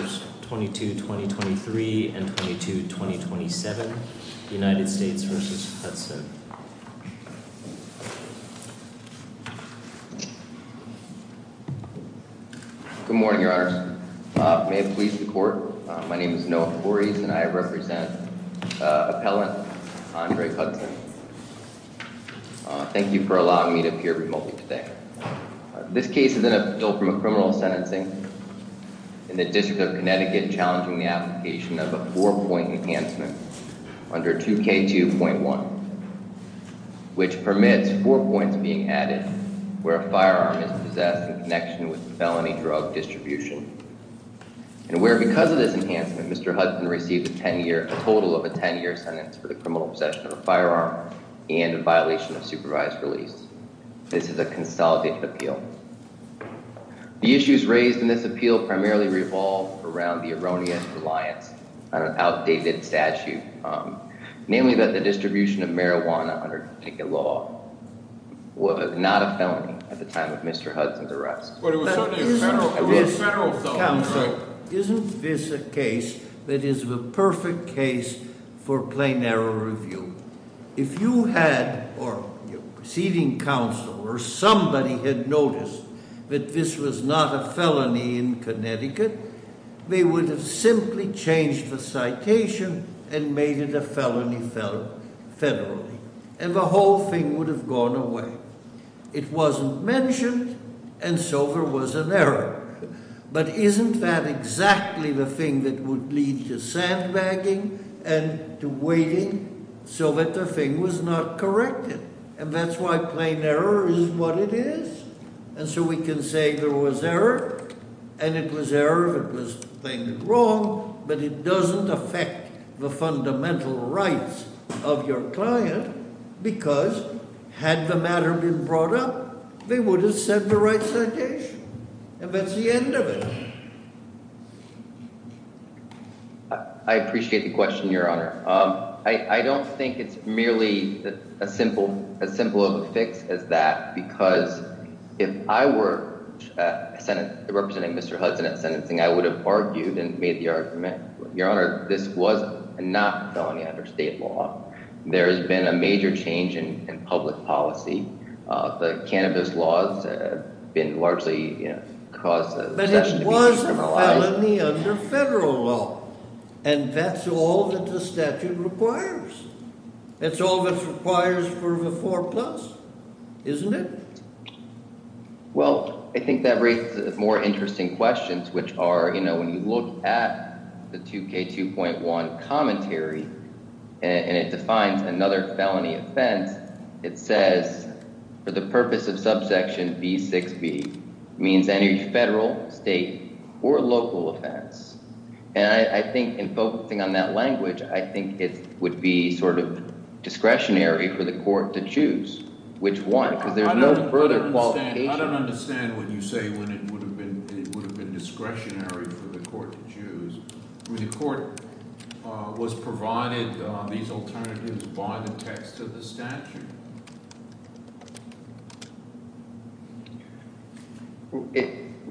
Good morning, your honors. May it please the court, my name is Noah Forreese and I represent appellant Andre Hudson. Thank you for allowing me to appear remotely today. This case is appeal from a criminal sentencing in the District of Connecticut challenging the application of a four-point enhancement under 2K2.1 which permits four points being added where a firearm is possessed in connection with felony drug distribution and where because of this enhancement Mr. Hudson received a total of a 10-year sentence for the criminal possession of a firearm and violation of supervised release. This is a consolidated appeal. The issues raised in this appeal primarily revolve around the erroneous reliance on an outdated statute, namely that the distribution of marijuana under Connecticut law was not a felony at the time of Mr. Hudson's appeal. Isn't this a case that is the perfect case for plain-error review? If you had, or your preceding counsel, or somebody had noticed that this was not a felony in Connecticut, they would have simply changed the citation and made it a felony federally, and the whole thing would have gone away. It wasn't mentioned, and so there was an error. But isn't that exactly the thing that would lead to sandbagging and to waiting so that the thing was not corrected? And that's why plain error is what it is. And so we can say there was error, and it was error if it was claimed wrong, but it doesn't affect the fundamental rights of your client, because had the matter been brought up, they would have sent the right citation. And that's the end of it. I appreciate the question, Your Honor. I don't think it's merely as simple of a fix as that, because if I were representing Mr. Hudson at sentencing, I would have argued and made the law. There has been a major change in public policy. The cannabis laws have been largely caused to be penalized. But it was a felony under federal law, and that's all that the statute requires. It's all that's required for the 4+, isn't it? Well, I think that raises more of a commentary, and it defines another felony offense. It says, for the purpose of subsection B6b, means any federal, state, or local offense. And I think in focusing on that language, I think it would be sort of discretionary for the court to choose which one, because there's no further qualification. I don't understand what you say when it would have been discretionary for the court to choose. I mean, the court was provided these alternatives by the text of the statute.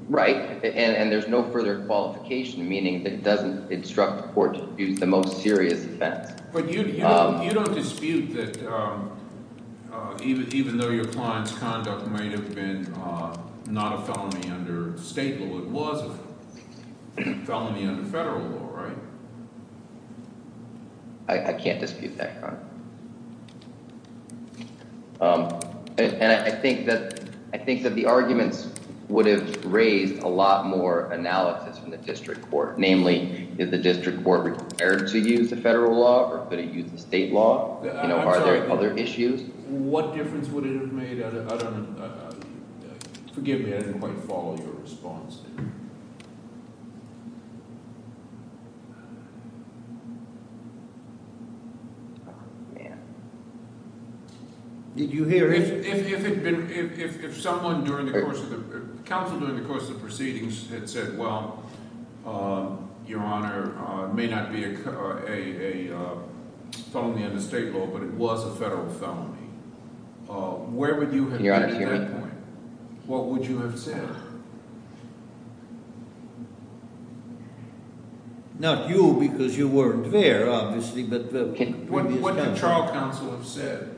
Right, and there's no further qualification, meaning that it doesn't instruct the court to choose the most serious offense. But you don't dispute that even though your client's conduct may have been not a felony under state law, it was a felony under federal law, right? I can't dispute that, Your Honor. And I think that the arguments would have raised a lot more analysis from the district court. Namely, is the district court required to use the federal law, or could it use the state law? Are there other issues? What difference would it have made? I don't know. Forgive me, I didn't quite follow your response there. Oh, man. Did you hear? If someone during the course of the, counsel during the course of the proceedings had said, well, Your Honor, it may not be a felony under state law, but it was a federal felony, where would you have been at that point? What would you have said? Not you, because you weren't there, obviously. What would the trial counsel have said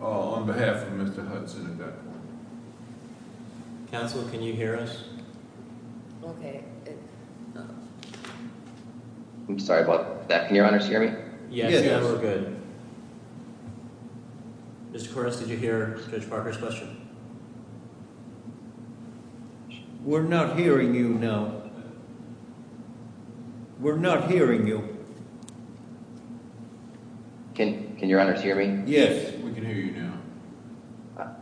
on behalf of Mr. Hudson at that point? Counsel, can you hear us? Okay. I'm sorry about that. Can Your Honor hear me? Yes, we're good. Mr. Koretz, did you hear Judge Parker's question? We're not hearing you now. We're not hearing you. Can Your Honor hear me? Yes, we can hear you now.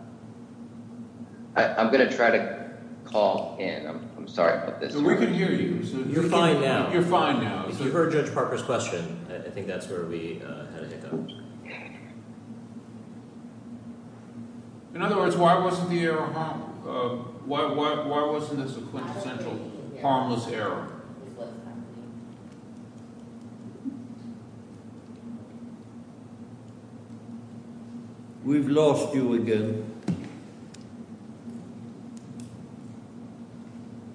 I'm going to try to call in. I'm sorry about this. No, we can hear you. You're fine now. You're fine now. If you heard Judge Parker's question, I think that's where we had a hiccup. In other words, why wasn't the error, why wasn't this a quintessential harmless error? We've lost you again.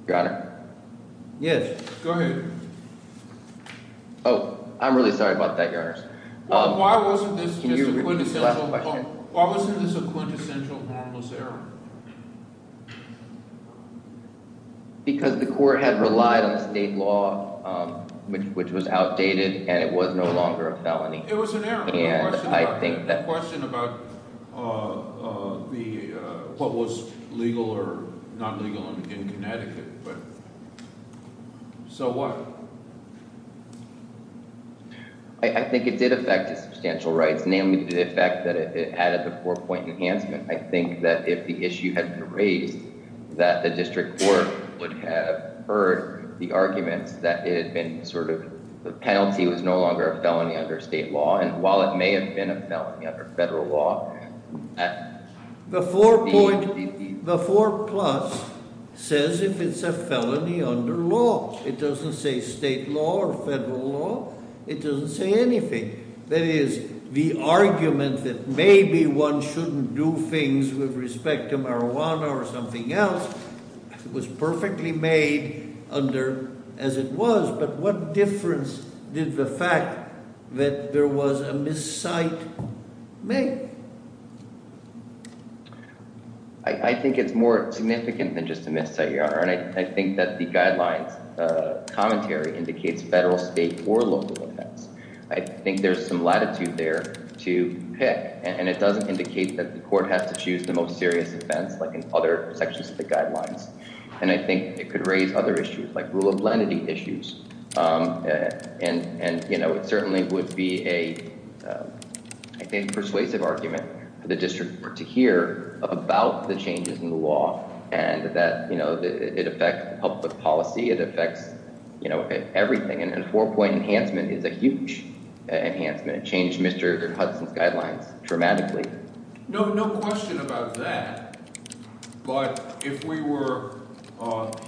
Your Honor? Yes, go ahead. Oh, I'm really sorry about that, Your Honor. Why wasn't this a quintessential harmless error? Because the court had relied on state law, which was outdated, and it was no longer a felony. It was an error. I have a question about what was legal or not legal in Connecticut. So what? I think it did affect his substantial rights, namely the fact that it added the four-point enhancement. I think that if the issue had been raised, that the district court would have heard the argument that it had been sort of, the penalty was no longer a felony under state law. And while it may have been a felony under federal law, the four-point, the four-plus says if it's a felony under law. It doesn't say state law or federal law. It doesn't say anything. That is, the argument that maybe one shouldn't do things with respect to marijuana or something else was perfectly made under as it was. But what difference did the fact that there was a miscite make? I think it's more significant than just a miscite, Your Honor. And I think that the guidelines commentary indicates federal, state, or local offense. I think there's some latitude there to pick. And it doesn't indicate that the court has to choose the most serious offense like in other sections of the guidelines. And I think it could raise other issues like rule of lenity issues. And it certainly would be a persuasive argument for the district court to hear about the changes in the law. And that it affects public policy. It affects everything. And a four-point enhancement is a huge enhancement. It changed Mr. Hudson's guidelines dramatically. No question about that. But if we were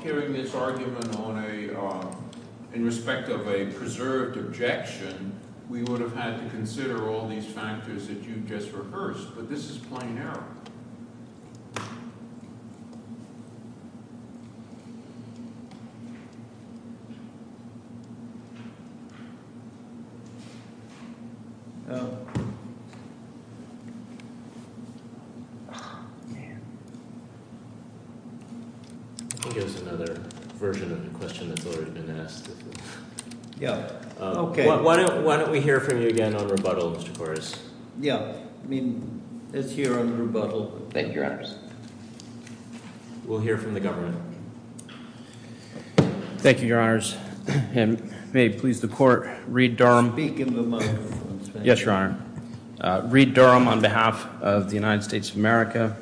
hearing this argument on a – in respect of a preserved objection, we would have had to consider all these factors that you just rehearsed. But this is plain error. I think there's another version of the question that's already been asked. Yeah. Okay. Why don't we hear from you again on rebuttal, Mr. Koras? Yeah. I mean, let's hear on rebuttal. Thank you, Your Honors. We'll hear from the government. Thank you, Your Honors. And may it please the court, Reed Durham. Speak into the microphone. Yes, Your Honor. Reed Durham on behalf of the United States of America.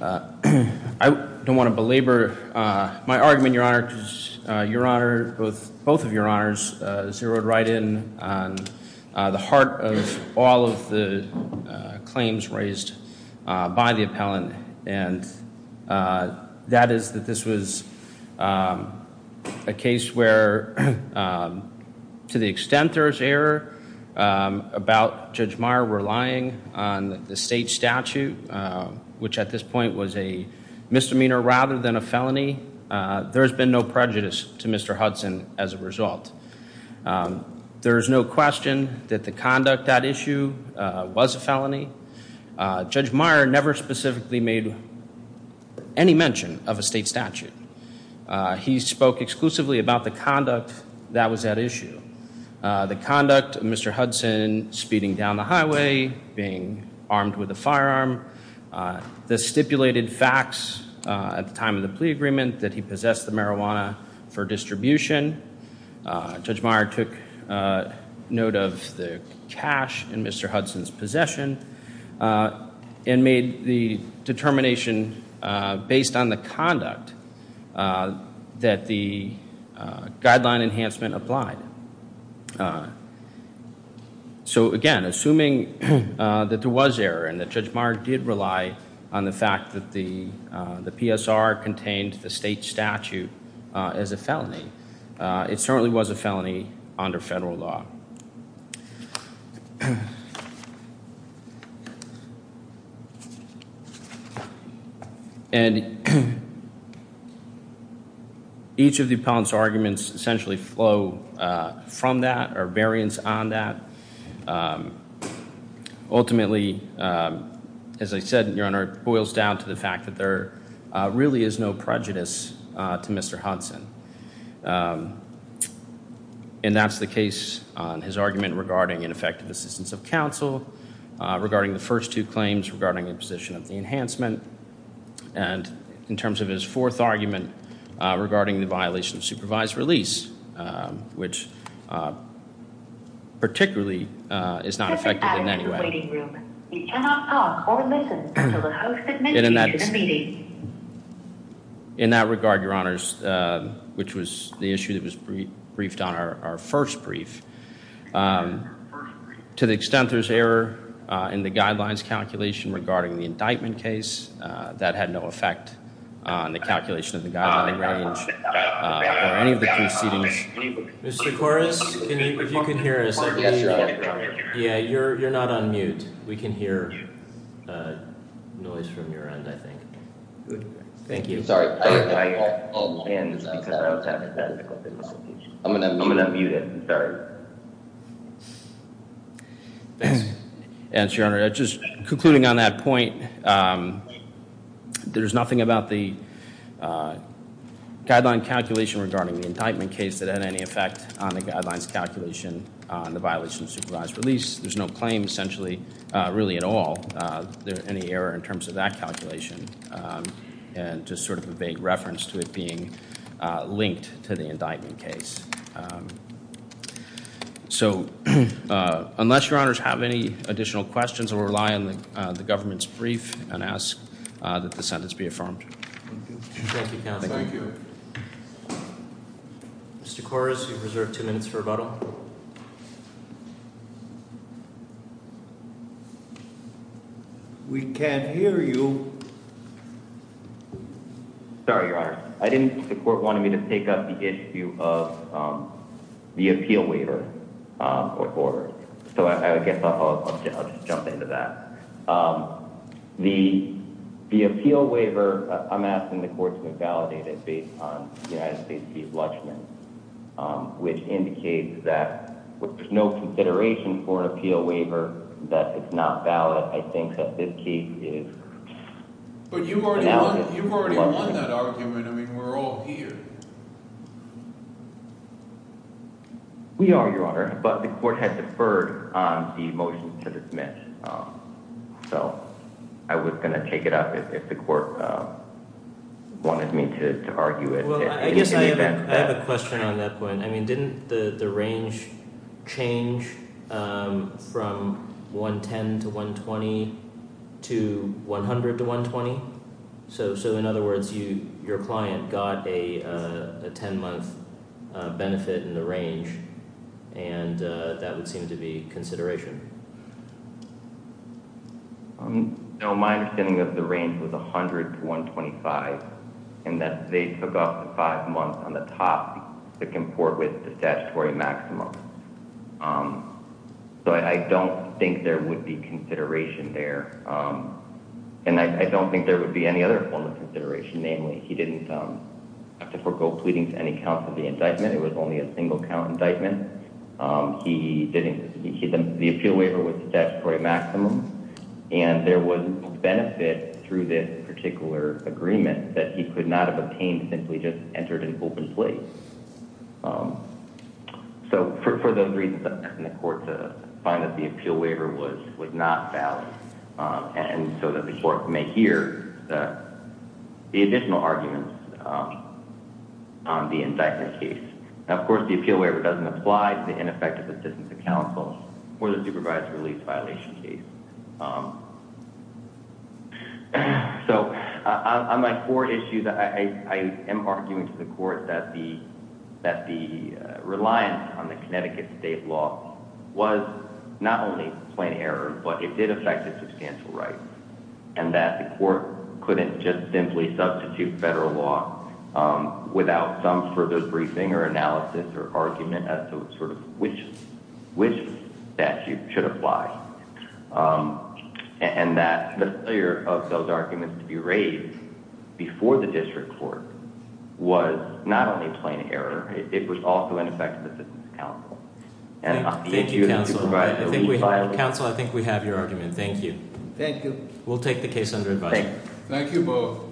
I don't want to belabor my argument, Your Honor, because Your Honor, both of Your Honors zeroed right in on the heart of all of the claims raised by the appellant. And that is that this was a case where, to the extent there is error about Judge Meyer relying on the state statute, which at this point was a misdemeanor rather than a felony, there has been no prejudice to Mr. Hudson as a result. There is no question that the conduct at issue was a felony. Judge Meyer never specifically made any mention of a state statute. He spoke exclusively about the conduct that was at issue. The conduct of Mr. Hudson speeding down the highway, being armed with a firearm. The stipulated facts at the time of the plea agreement that he possessed the marijuana for distribution. Judge Meyer took note of the cash in Mr. Hudson's possession and made the determination based on the conduct that the guideline enhancement applied. So, again, assuming that there was error and that Judge Meyer did rely on the fact that the PSR contained the state statute as a felony, it certainly was a felony under federal law. And each of the appellant's arguments essentially flow from that or variance on that. Ultimately, as I said, Your Honor, it boils down to the fact that there really is no prejudice to Mr. Hudson. And that's the case on his argument regarding ineffective assistance of counsel, regarding the first two claims, regarding the position of the enhancement, and in terms of his fourth argument regarding the violation of supervised release, which particularly is not effective in any way. You cannot talk or listen until the host administers the meeting. In that regard, Your Honors, which was the issue that was briefed on our first brief, to the extent there's error in the guidelines calculation regarding the indictment case, that had no effect on the calculation of the guidelining range or any of the proceedings. Mr. Koras, if you can hear us. Yeah, you're not on mute. We can hear noise from your end, I think. Thank you. And Your Honor, just concluding on that point, there's nothing about the guideline calculation regarding the indictment case that had any effect on the guidelines calculation on the violation of supervised release. There's no claim, essentially, really at all, any error in terms of that calculation, and just sort of a vague reference to it being linked to the indictment case. So, unless Your Honors have any additional questions, I will rely on the government's brief and ask that the sentence be affirmed. Thank you, counsel. Thank you. Mr. Koras, you're reserved two minutes for rebuttal. We can't hear you. Sorry, Your Honor. I didn't think the court wanted me to pick up the issue of the appeal waiver. So, I guess I'll just jump into that. The appeal waiver, I'm asking the court to invalidate it based on the United States Chief's judgment, which indicates that with no consideration for an appeal waiver, that it's not valid. I think that this case is invalid. But you've already won that argument. I mean, we're all here. We are, Your Honor. But the court has deferred the motion to submit. So, I was going to take it up if the court wanted me to argue it. I guess I have a question on that point. I mean, didn't the range change from 110 to 120 to 100 to 120? So, in other words, your client got a 10-month benefit in the range, and that would seem to be consideration. No, my understanding of the range was 100 to 125, and that they took off the five months on the top to comport with the statutory maximum. So, I don't think there would be consideration there. And I don't think there would be any other form of consideration. Namely, he didn't have to forego pleading to any counsel for the indictment. It was only a single-count indictment. The appeal waiver was the statutory maximum, and there was no benefit through this particular agreement that he could not have obtained simply just entered in open plea. So, for those reasons, the court found that the appeal waiver was not valid. And so that the court may hear the additional arguments on the indictment case. Now, of course, the appeal waiver doesn't apply to the ineffective assistance of counsel or the supervised release violation case. So, on my core issues, I am arguing to the court that the reliance on the Connecticut state law was not only plain error, but it did affect his substantial rights. And that the court couldn't just simply substitute federal law without some further briefing or analysis or argument as to sort of which statute should apply. And that the failure of those arguments to be raised before the district court was not only plain error, it was also ineffective assistance of counsel. Thank you, counsel. Counsel, I think we have your argument. Thank you. Thank you. We'll take the case under advisory. Thank you both.